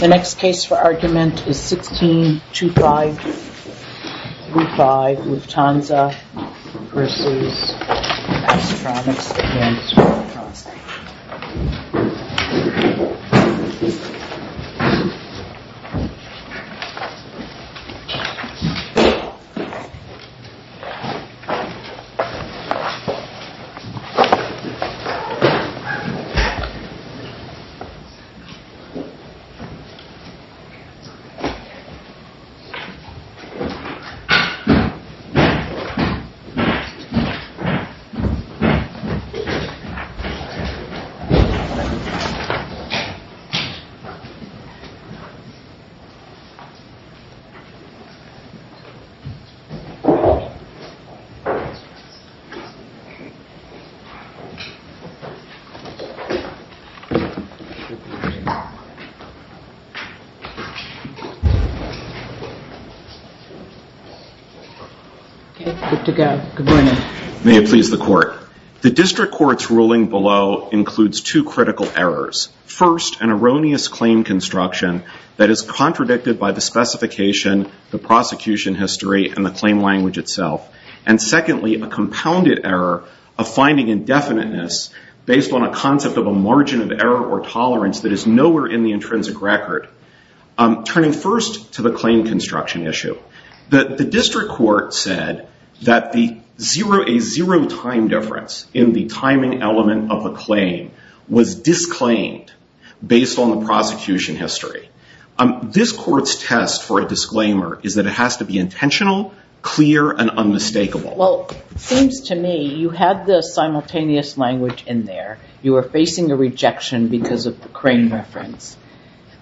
The next case for argument is 16-2-5 Lufthansa v. Astronics Advanced Electronics. The next case for argument is 16-2-5 Lufthansa v. Astronics Advanced Electronics. May it please the court. The district court's ruling below includes two critical errors. First, an erroneous claim construction that is contradicted by the specification, the prosecution history, and the claim language itself. And secondly, a compounded error of finding indefiniteness based on a concept of a margin of error or tolerance that is nowhere in the intrinsic record. Turning first to the claim construction issue, the district court said that a zero time difference in the timing element of a claim was disclaimed based on the prosecution history. This court's test for a disclaimer is that it has to be intentional, clear, and unmistakable. Well, it seems to me you had the simultaneous language in there. You were facing a rejection because of the crane reference.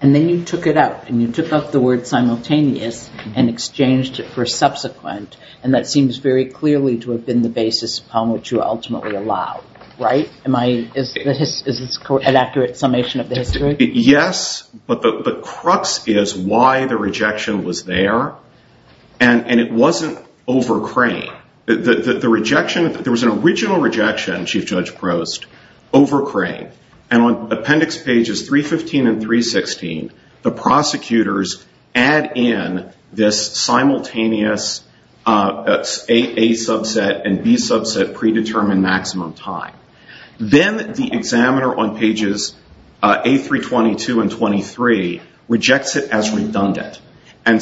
And then you took it out. And you took out the word simultaneous and exchanged it for subsequent. And that seems very clearly to have been the basis upon which you ultimately allowed, right? Is this an accurate summation of the history? Yes, but the crux is why the rejection was there. And it wasn't over crane. The rejection, there was an original rejection, Chief Judge Prost, over crane. And on appendix pages 315 and 316, the prosecutors add in this simultaneous A subset and B subset predetermined maximum time. Then the examiner on pages A322 and A323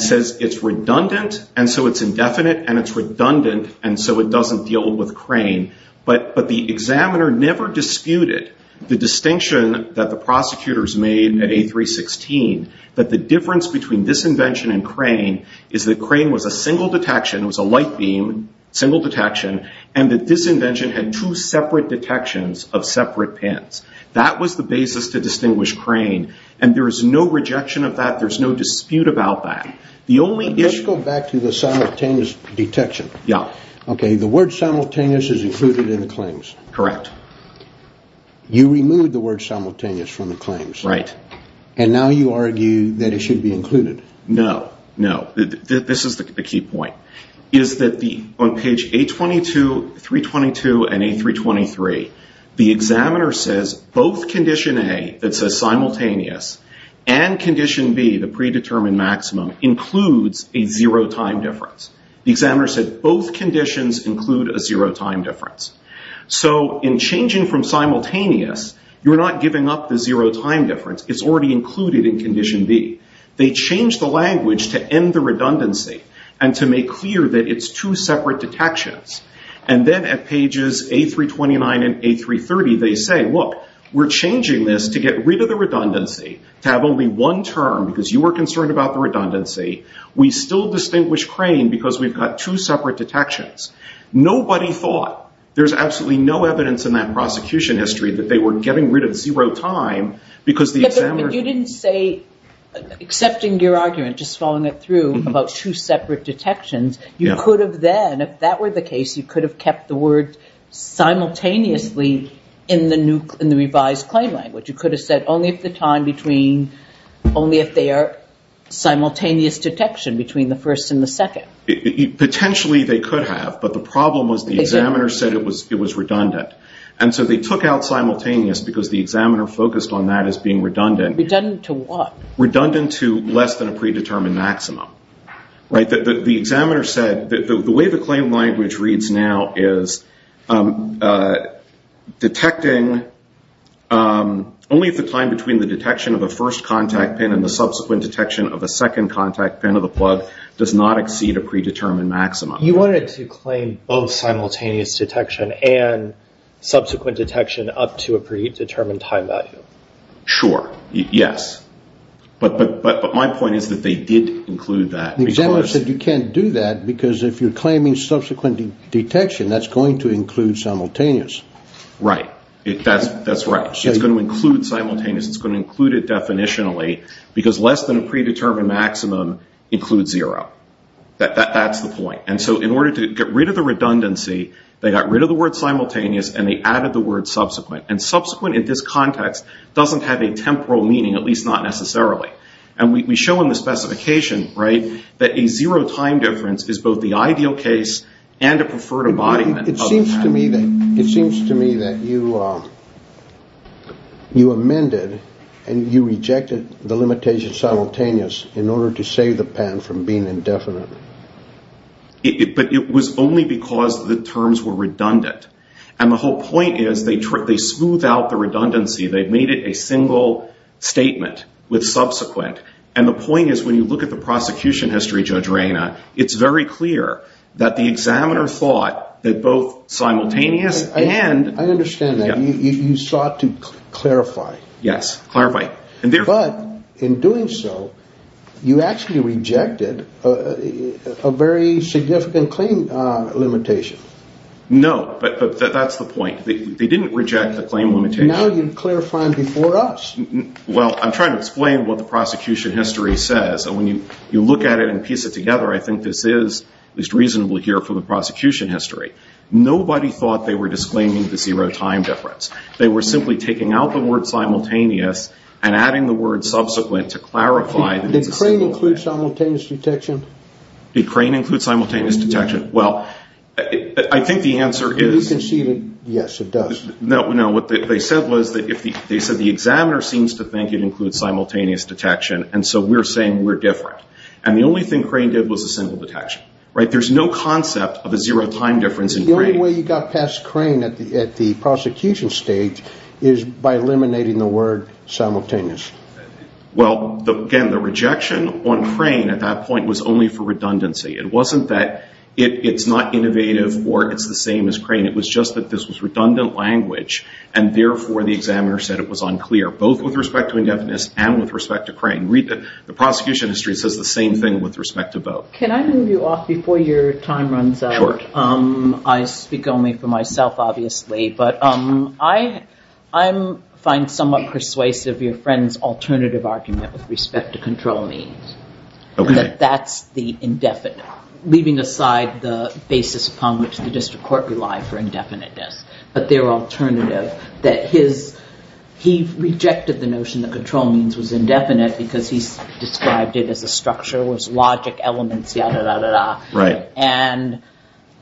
says it's redundant, and so it's indefinite, and it's redundant, and so it doesn't deal with crane. But the examiner never disputed the distinction that the prosecutors made at A316, that the difference between this invention and crane is that crane was a single detection. It was a light beam, single detection. And that this invention had two separate detections of separate pins. That was the basis to distinguish crane. And there is no rejection of that. There's no dispute about that. Let's go back to the simultaneous detection. Yeah. Okay, the word simultaneous is included in the claims. Correct. You removed the word simultaneous from the claims. Right. And now you argue that it should be included. No, no. This is the key point, is that on page A22, 322, and A323, the examiner says both condition A that predetermined maximum includes a zero time difference. The examiner said both conditions include a zero time difference. So in changing from simultaneous, you're not giving up the zero time difference. It's already included in condition B. They changed the language to end the redundancy and to make clear that it's two separate detections. And then at pages A329 and A330, they say, look, we're changing this to get rid of the redundancy, to have only one term because you were concerned about the redundancy. We still distinguish crane because we've got two separate detections. Nobody thought, there's absolutely no evidence in that prosecution history that they were getting rid of zero time because the examiner- But you didn't say, accepting your argument, just following it through about two separate detections, you could have then, if that were the case, you could have kept the word simultaneously in the revised claim language. You could have said only if they are simultaneous detection between the first and the second. Potentially they could have, but the problem was the examiner said it was redundant. And so they took out simultaneous because the examiner focused on that as being redundant. Redundant to what? Redundant to less than a predetermined maximum. The examiner said, the way the claim language reads now is, detecting, only if the time between the detection of the first contact pin and the subsequent detection of the second contact pin of the plug does not exceed a predetermined maximum. You wanted to claim both simultaneous detection and subsequent detection up to a predetermined time value. Sure. Yes. But my point is that they did include that. The examiner said you can't do that because if you're claiming subsequent detection, that's going to include simultaneous. Right. That's right. It's going to include simultaneous. It's going to include it definitionally because less than a predetermined maximum includes zero. That's the point. And so in order to get rid of the redundancy, they got rid of the word simultaneous and they added the word subsequent. And subsequent in this context doesn't have a temporal meaning, at least not necessarily. And we show in the specification, right, that a zero time difference is both the ideal case and a preferred embodiment. It seems to me that you amended and you rejected the limitation simultaneous in order to save the patent from being indefinite. But it was only because the terms were redundant. And the whole point is they smoothed out the subsequent. And the point is when you look at the prosecution history, Judge Reyna, it's very clear that the examiner thought that both simultaneous and... I understand that. You sought to clarify. Yes. Clarify. But in doing so, you actually rejected a very significant claim limitation. No. But that's the point. They didn't reject the claim limitation. And now you're clarifying before us. Well, I'm trying to explain what the prosecution history says. And when you look at it and piece it together, I think this is at least reasonable here for the prosecution history. Nobody thought they were disclaiming the zero time difference. They were simply taking out the word simultaneous and adding the word subsequent to clarify that it's a single... Did Crane include simultaneous detection? Did Crane include simultaneous detection? Well, I think the answer is... They said the examiner seems to think it includes simultaneous detection. And so we're saying we're different. And the only thing Crane did was a single detection. There's no concept of a zero time difference in Crane. The only way you got past Crane at the prosecution stage is by eliminating the word simultaneous. Well, again, the rejection on Crane at that point was only for redundancy. It wasn't that it's not innovative or it's the same as Crane. It was just that this was redundant language. And therefore, the examiner said it was unclear, both with respect to indefiniteness and with respect to Crane. The prosecution history says the same thing with respect to both. Can I move you off before your time runs out? Sure. I speak only for myself, obviously. But I find somewhat persuasive your friend's alternative argument with respect to control means. That that's the indefinite, leaving aside the basis upon which the district court relied for indefiniteness. But their alternative, that he rejected the notion that control means was indefinite because he described it as a structure, was logic elements, yada, yada, yada. And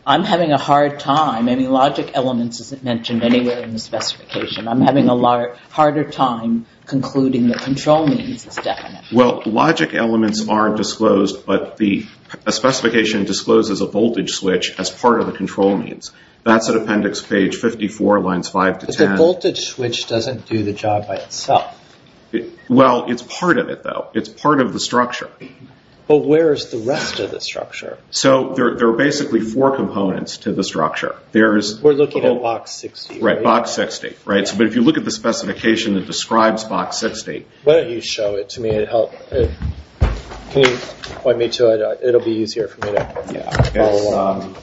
I'm having a hard time. I mean, logic elements isn't mentioned anywhere in the specification. I'm having a harder time concluding that control means is definite. Well, logic elements aren't disclosed, but the specification discloses a voltage switch as part of the control means. That's at appendix page 54, lines 5 to 10. But the voltage switch doesn't do the job by itself. Well, it's part of it, though. It's part of the structure. But where is the rest of the structure? So, there are basically four components to the structure. We're looking at box 60, right? Right, box 60. But if you look at the specification that describes box 60. Why don't you show it to me? It'll be easier for me to follow along.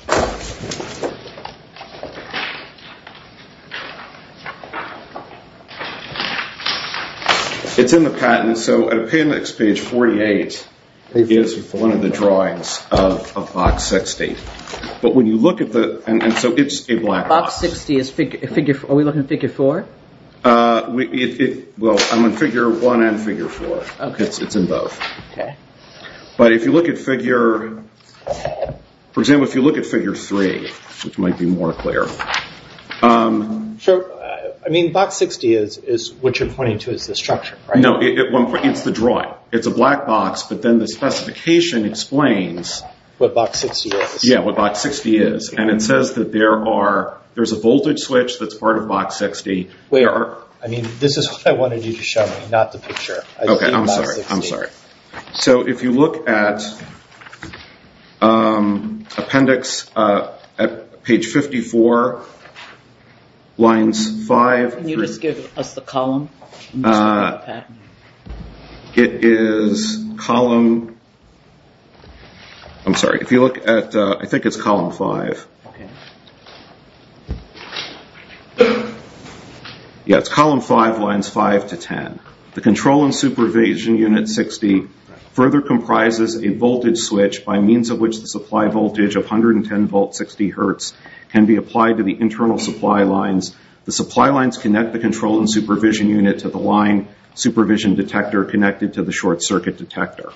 It's in the patent. So, at appendix page 48, it gives you one of the drawings of box 60. But when you look at the... And so, it's a black box. Box 60, are we looking at figure 4? Well, I'm on figure 1 and figure 4. It's in both. But if you look at figure... For example, if you look at figure 3, which might be more clear. I mean, box 60 is what you're pointing to as the structure, right? No, it's the drawing. It's a black box, but then the specification explains... What box 60 is. Yeah, what box 60 is. And it says that there's a voltage switch that's part of box 60. Wait, I mean, this is what I wanted you to show me, not the picture. Okay, I'm sorry, I'm sorry. So if you look at appendix at page 54, lines 5 through... Can you just give us the column? It is column... I'm sorry, if you look at... It's column 5. Yeah, it's column 5, lines 5 to 10. The control and supervision unit 60 further comprises a voltage switch by means of which the supply voltage of 110 volt 60 hertz can be applied to the internal supply lines. The supply lines connect the control and supervision unit to the line supervision detector connected to the short circuit detector.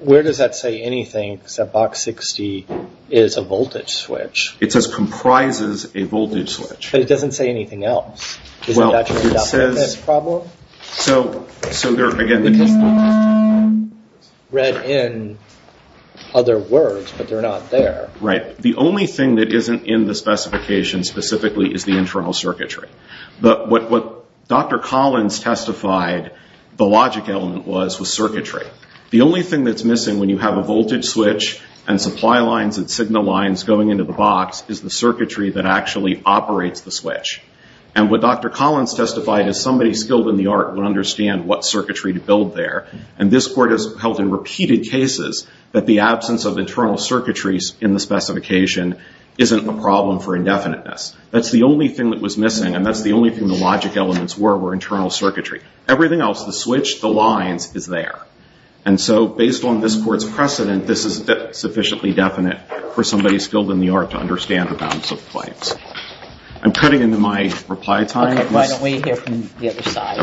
Where does that say anything except box 60 is a voltage switch? It says comprises a voltage switch. But it doesn't say anything else. Well, it says... Is it actually a WFS problem? So there, again, the control... It's read in other words, but they're not there. Right. The only thing that isn't in the specification specifically is the internal circuitry. But what Dr. Collins testified the logic element was, was circuitry. The only thing that's missing when you have a voltage switch and supply lines and signal lines going into the box is the circuitry that actually operates the switch. And what Dr. Collins testified is somebody skilled in the art would understand what circuitry to build there. And this court has held in repeated cases that the absence of internal circuitries in the specification isn't a problem for indefiniteness. That's the only thing that was missing. And that's the only thing the logic elements were, were internal circuitry. Everything else, the switch, the lines is there. And so based on this court's precedent, this is sufficiently definite for somebody skilled in the art to understand the balance of the planes. I'm cutting into my reply time. Okay. Why don't we hear from the other side?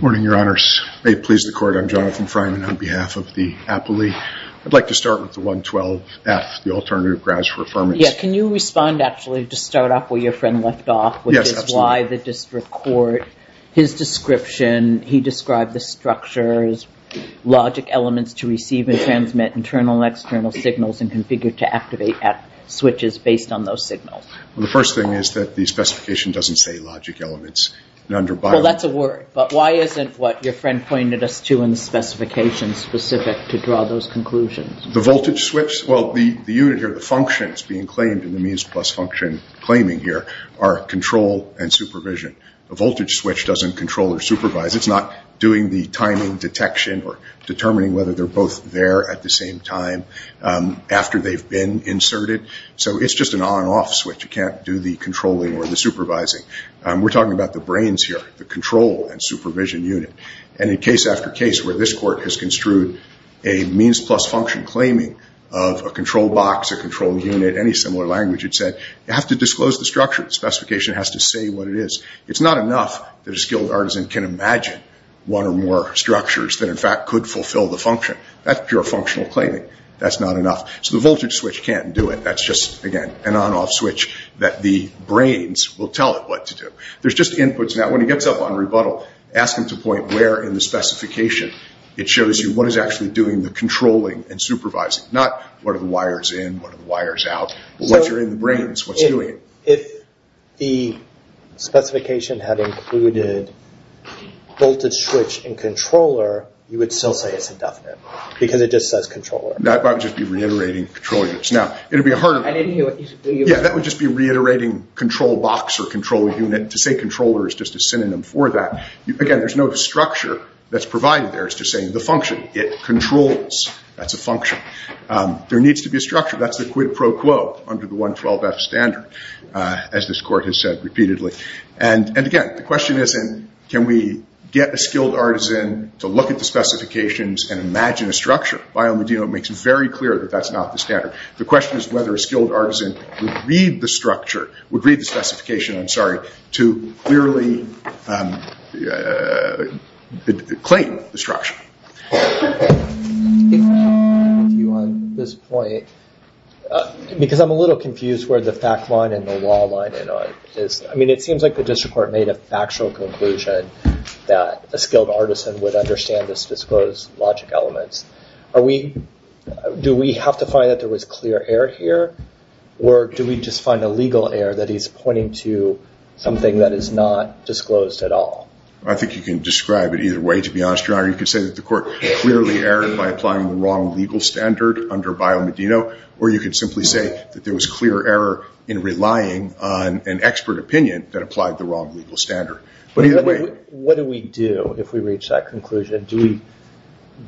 Good morning, your honors. May it please the court, I'm Jonathan Fryman on behalf of the appellee. I'd like to start with the 112F, the alternative grounds for affirmance. Yeah. Can you respond actually to start off where your friend left off, which is why the district court, his description, he described the structures, logic elements to receive and transmit internal and external signals and configure to activate at switches based on those signals. Well, the first thing is that the specification doesn't say logic elements. Well, that's a word. But why isn't what your friend pointed us to in the specification specific to draw those conclusions? The voltage switch? Well, the unit here, the function is being claimed in the means plus function claiming here are control and supervision. The voltage switch doesn't control or supervise. It's not doing the timing detection or determining whether they're both there at the same time after they've been inserted. So it's just an on-off switch. You can't do the controlling or the supervising. We're talking about the brains here, the control and supervision unit. And in case after case where this court has construed a means plus function claiming of a control box, a control unit, any similar language, it said, you have to disclose the It's not enough that a skilled artisan can imagine one or more structures that in fact could fulfill the function. That's pure functional claiming. That's not enough. So the voltage switch can't do it. That's just, again, an on-off switch that the brains will tell it what to do. There's just inputs. Now, when he gets up on rebuttal, ask him to point where in the specification it shows you what is actually doing the controlling and supervising. Not what are the wires in, what are the wires out, but what's in the brains, what's doing. If the specification had included voltage switch and controller, you would still say it's indefinite because it just says controller. That would just be reiterating control units. Now, it would be harder. I didn't hear what you said. Yeah, that would just be reiterating control box or control unit. To say controller is just a synonym for that. Again, there's no structure that's provided there. It's just saying the function, it controls. That's a function. There needs to be a structure. That's the question, as this court has said repeatedly. Again, the question isn't, can we get a skilled artisan to look at the specifications and imagine a structure? Biomodino makes it very clear that that's not the standard. The question is whether a skilled artisan would read the specification to clearly claim the structure. I think you can describe it either way, to be honest, or you could say that the court clearly erred by applying the wrong legal standard under Biomodino, or you could simply say that there was clear error in relying on an expert opinion that applied the wrong legal standard. What do we do if we reach that conclusion? Do we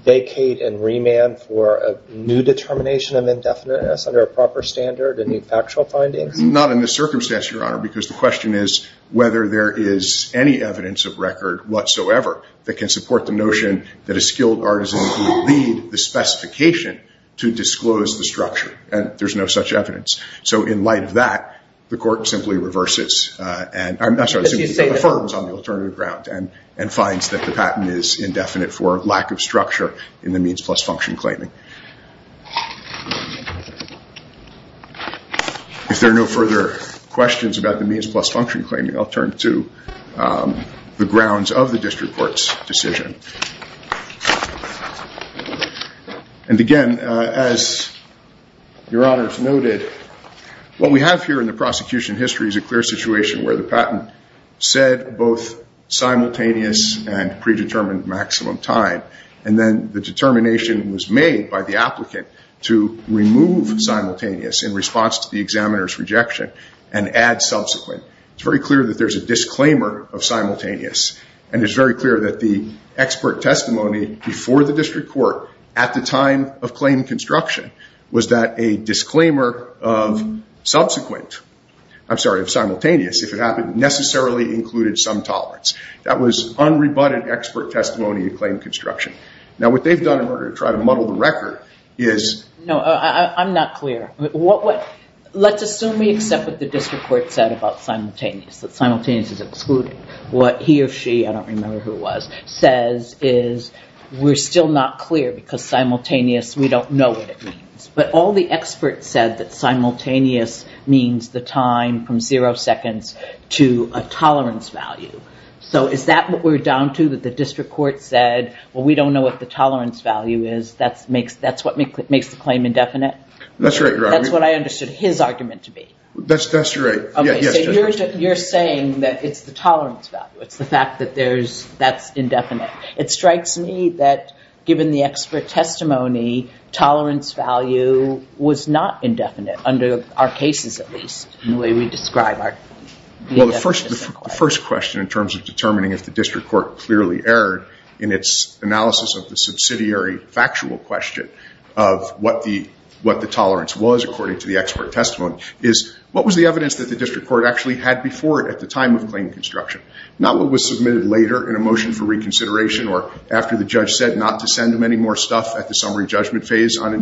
vacate and remand for a new determination of indefiniteness under a proper standard, a new factual finding? Not in this circumstance, Your Honor, because the question is whether there is any evidence of record whatsoever that can support the notion that a skilled artisan would read the specification to disclose the structure. There's no such evidence. In light of that, the court simply affirms on the alternative ground and finds that the patent is indefinite for lack of structure in the means plus function claiming. If there are no further questions about the means plus function claiming, I'll turn to the grounds of the district court's decision. Again, as Your Honor has noted, what we have here in the prosecution history is a clear situation where the patent said both simultaneous and predetermined maximum time, and then the applicant removed simultaneous in response to the examiner's rejection and added subsequent. It's very clear that there's a disclaimer of simultaneous, and it's very clear that the expert testimony before the district court at the time of claim construction was that a disclaimer of simultaneous, if it happened, necessarily included some tolerance. That was unrebutted expert testimony of claim construction. What they've done in order to try to muddle the record is- No, I'm not clear. Let's assume we accept what the district court said about simultaneous, that simultaneous is excluded. What he or she, I don't remember who it was, says is we're still not clear because simultaneous, we don't know what it means. All the experts said that simultaneous means the time from zero seconds to a tolerance value. Is that what we're down to, that the district court said, well, we don't know what the tolerance value is? That's what makes the claim indefinite? That's right, Your Honor. That's what I understood his argument to be. That's right, yes. You're saying that it's the tolerance value. It's the fact that that's indefinite. It strikes me that given the expert testimony, tolerance value was not indefinite, under our cases at least, the way we describe our- Well, the first question in terms of determining if the district court clearly erred in its analysis of the subsidiary factual question of what the tolerance was, according to the expert testimony, is what was the evidence that the district court actually had before it at the time of claim construction? Not what was submitted later in a motion for reconsideration or after the judge said not to send them any more stuff at the summary judgment phase on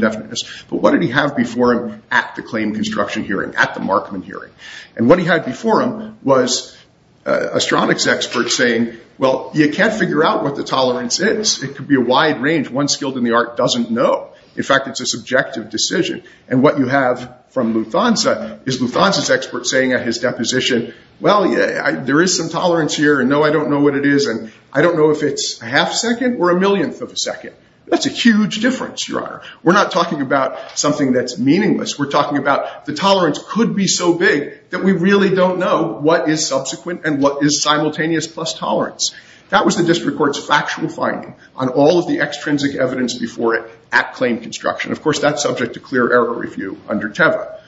at the Markman hearing. What he had before him was astronautics experts saying, well, you can't figure out what the tolerance is. It could be a wide range. One skilled in the art doesn't know. In fact, it's a subjective decision. What you have from Lufthansa is Lufthansa's expert saying at his deposition, well, there is some tolerance here. No, I don't know what it is. I don't know if it's a half second or a millionth of a second. That's a huge difference, Your Honor. We're not talking about something that's meaningless. We're talking about the tolerance could be so big that we really don't know what is subsequent and what is simultaneous plus tolerance. That was the district court's factual finding on all of the extrinsic evidence before it at claim construction. Of course, that's subject to clear error review under TEVA.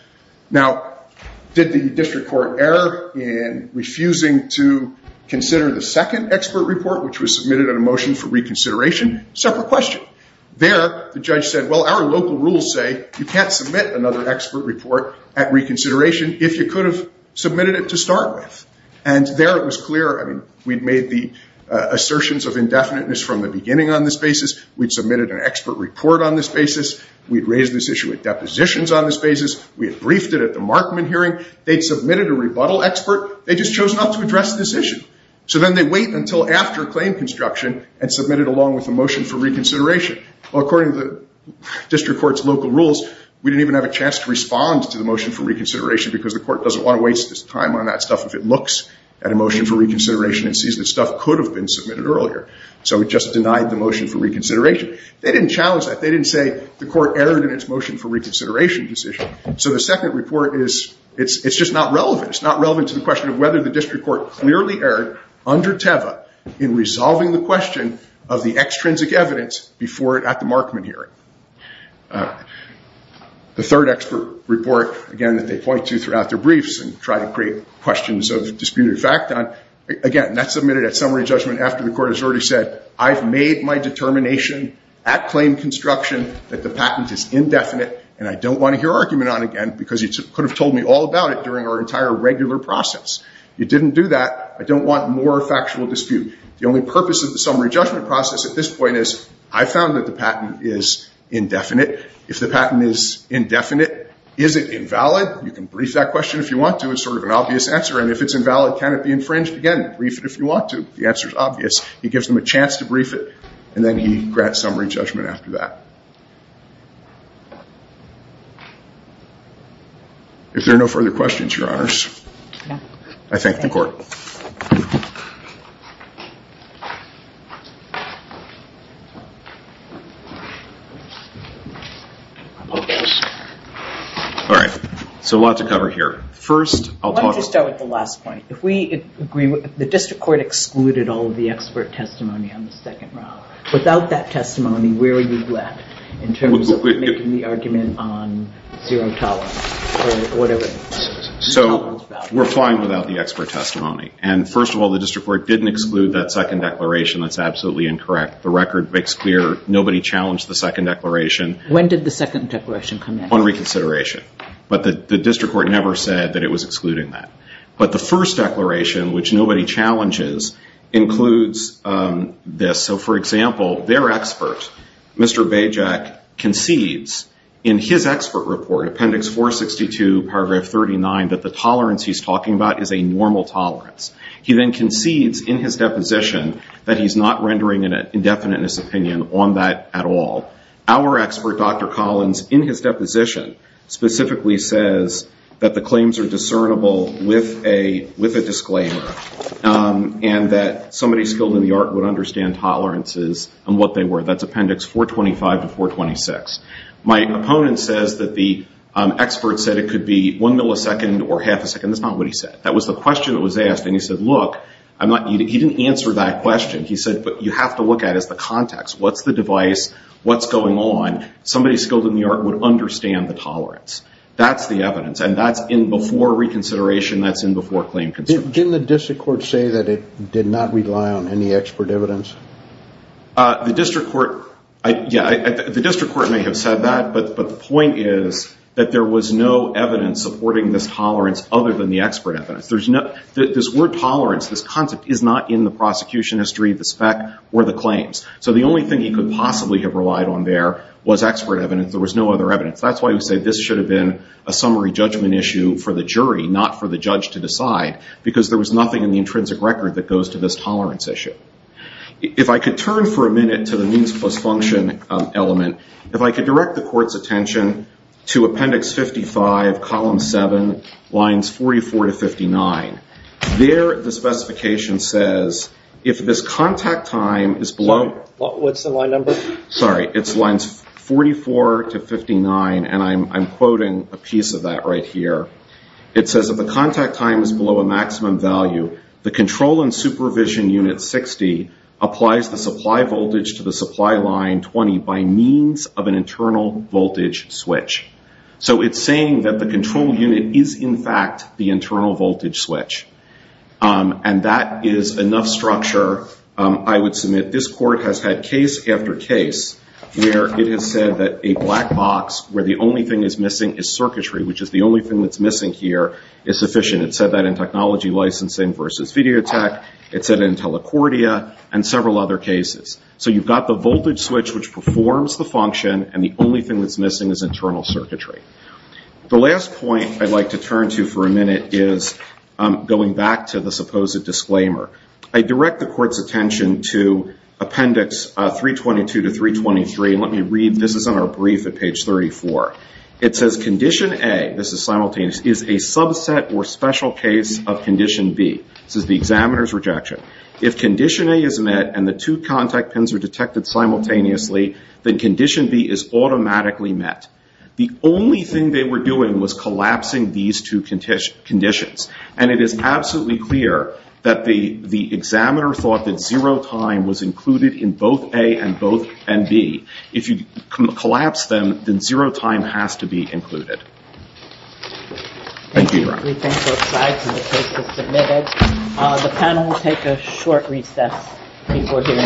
Now, did the district court err in refusing to consider the second expert report, which was submitted in a motion for reconsideration? Separate question. There, the judge said, well, our local rules say you can't submit another expert report at reconsideration if you could have submitted it to start with. There, it was clear. We'd made the assertions of indefiniteness from the beginning on this basis. We'd submitted an expert report on this basis. We'd raised this issue at depositions on this basis. We had briefed it at the Markman hearing. They'd submitted a rebuttal expert. They just chose not to address this issue. Then, they wait until after claim construction and submit it along with the motion for reconsideration. Well, according to the district court's local rules, we didn't even have a chance to respond to the motion for reconsideration because the court doesn't want to waste its time on that stuff if it looks at a motion for reconsideration and sees that stuff could have been submitted earlier. So it just denied the motion for reconsideration. They didn't challenge that. They didn't say the court erred in its motion for reconsideration decision. So the second report is, it's just not relevant. It's not relevant to the question of whether the district court clearly erred under TEVA in resolving the question of the extrinsic evidence before at the Markman hearing. The third expert report, again, that they point to throughout their briefs and try to create questions of disputed fact on, again, that's submitted at summary judgment after the court has already said, I've made my determination at claim construction that the patent is indefinite, and I don't want to hear argument on it again because you could have told me all about it during our entire regular process. You didn't do that. I don't want more factual dispute. The only purpose of the summary judgment process at this point is, I found that the patent is indefinite. If the patent is indefinite, is it invalid? You can brief that question if you want to. It's sort of an obvious answer. And if it's invalid, can it be infringed? Again, brief it if you want to. The answer is obvious. He gives them a chance to brief it, and then he grants summary judgment after that. If there are no further questions, Your Honors, I thank the court. All right. So, a lot to cover here. First, I'll talk about- Why don't you start with the last point? If we agree, the district court excluded all of the expert testimony on the second round. Without that testimony, where are you at in terms of making the argument on zero tolerance or whatever it is? So, we're fine without the expert testimony. And first of all, the district court didn't exclude that second declaration. That's absolutely incorrect. The record makes clear nobody challenged the second declaration. When did the second declaration come in? On reconsideration. But the district court never said that it was excluding that. But the first declaration, which nobody challenges, includes this. So, for example, their expert, Mr. Bajek, concedes in his expert report, Appendix 462, Paragraph 39, that the tolerance he's talking about is a normal tolerance. He then concedes in his deposition that he's not rendering an indefiniteness opinion on that at all. Our expert, Dr. Collins, in his deposition specifically says that the claims are discernible with a disclaimer and that somebody skilled in the art would understand tolerances and what they were. That's Appendix 425 to 426. My opponent says that the expert said it could be one millisecond or half a second. That's not what he said. That was the question that was asked. And he said, look, I'm not, he didn't answer that question. He said, but you have to look at it as the context. What's the device? What's going on? Somebody skilled in the art would understand the tolerance. That's the evidence. And that's in before reconsideration. That's in before claim consent. Didn't the district court say that it did not rely on any expert evidence? The district court, yeah, the district court may have said that, but the point is that there was no evidence supporting this tolerance other than the expert evidence. There's no, this word tolerance, this concept is not in the prosecution history, the spec or the claims. So the only thing he could possibly have relied on there was expert evidence. There was no other evidence. That's why we say this should have been a summary judgment issue for the jury, not for the judge to decide, because there was nothing in the intrinsic record that goes to this tolerance issue. If I could turn for a minute to the means plus function element, if I could direct the court's attention to Appendix 55, Column 7, Lines 44 to 59. There the specification says, if this contact time is below, what's the line number? Sorry, it's Lines 44 to 59, and I'm quoting a piece of that right here. It says, Column Supervision Unit 60 applies the supply voltage to the supply line 20 by means of an internal voltage switch. So it's saying that the control unit is in fact the internal voltage switch, and that is enough structure. I would submit this court has had case after case where it has said that a black box where the only thing is missing is circuitry, which is the only thing that's missing here is sufficient. It said that in technology licensing versus video tech, it said in telecordia, and several other cases. So you've got the voltage switch which performs the function, and the only thing that's missing is internal circuitry. The last point I'd like to turn to for a minute is going back to the supposed disclaimer. I direct the court's attention to Appendix 322 to 323. Let me read, this is on our brief at page 34. It says, Condition A, this is simultaneous, is a subset or special case of Condition B. This is the examiner's rejection. If Condition A is met and the two contact pins are detected simultaneously, then Condition B is automatically met. The only thing they were doing was collapsing these two conditions, and it is absolutely clear that the examiner thought that zero time was included in both A and B. If you collapse them, then zero time has to be included. Thank you.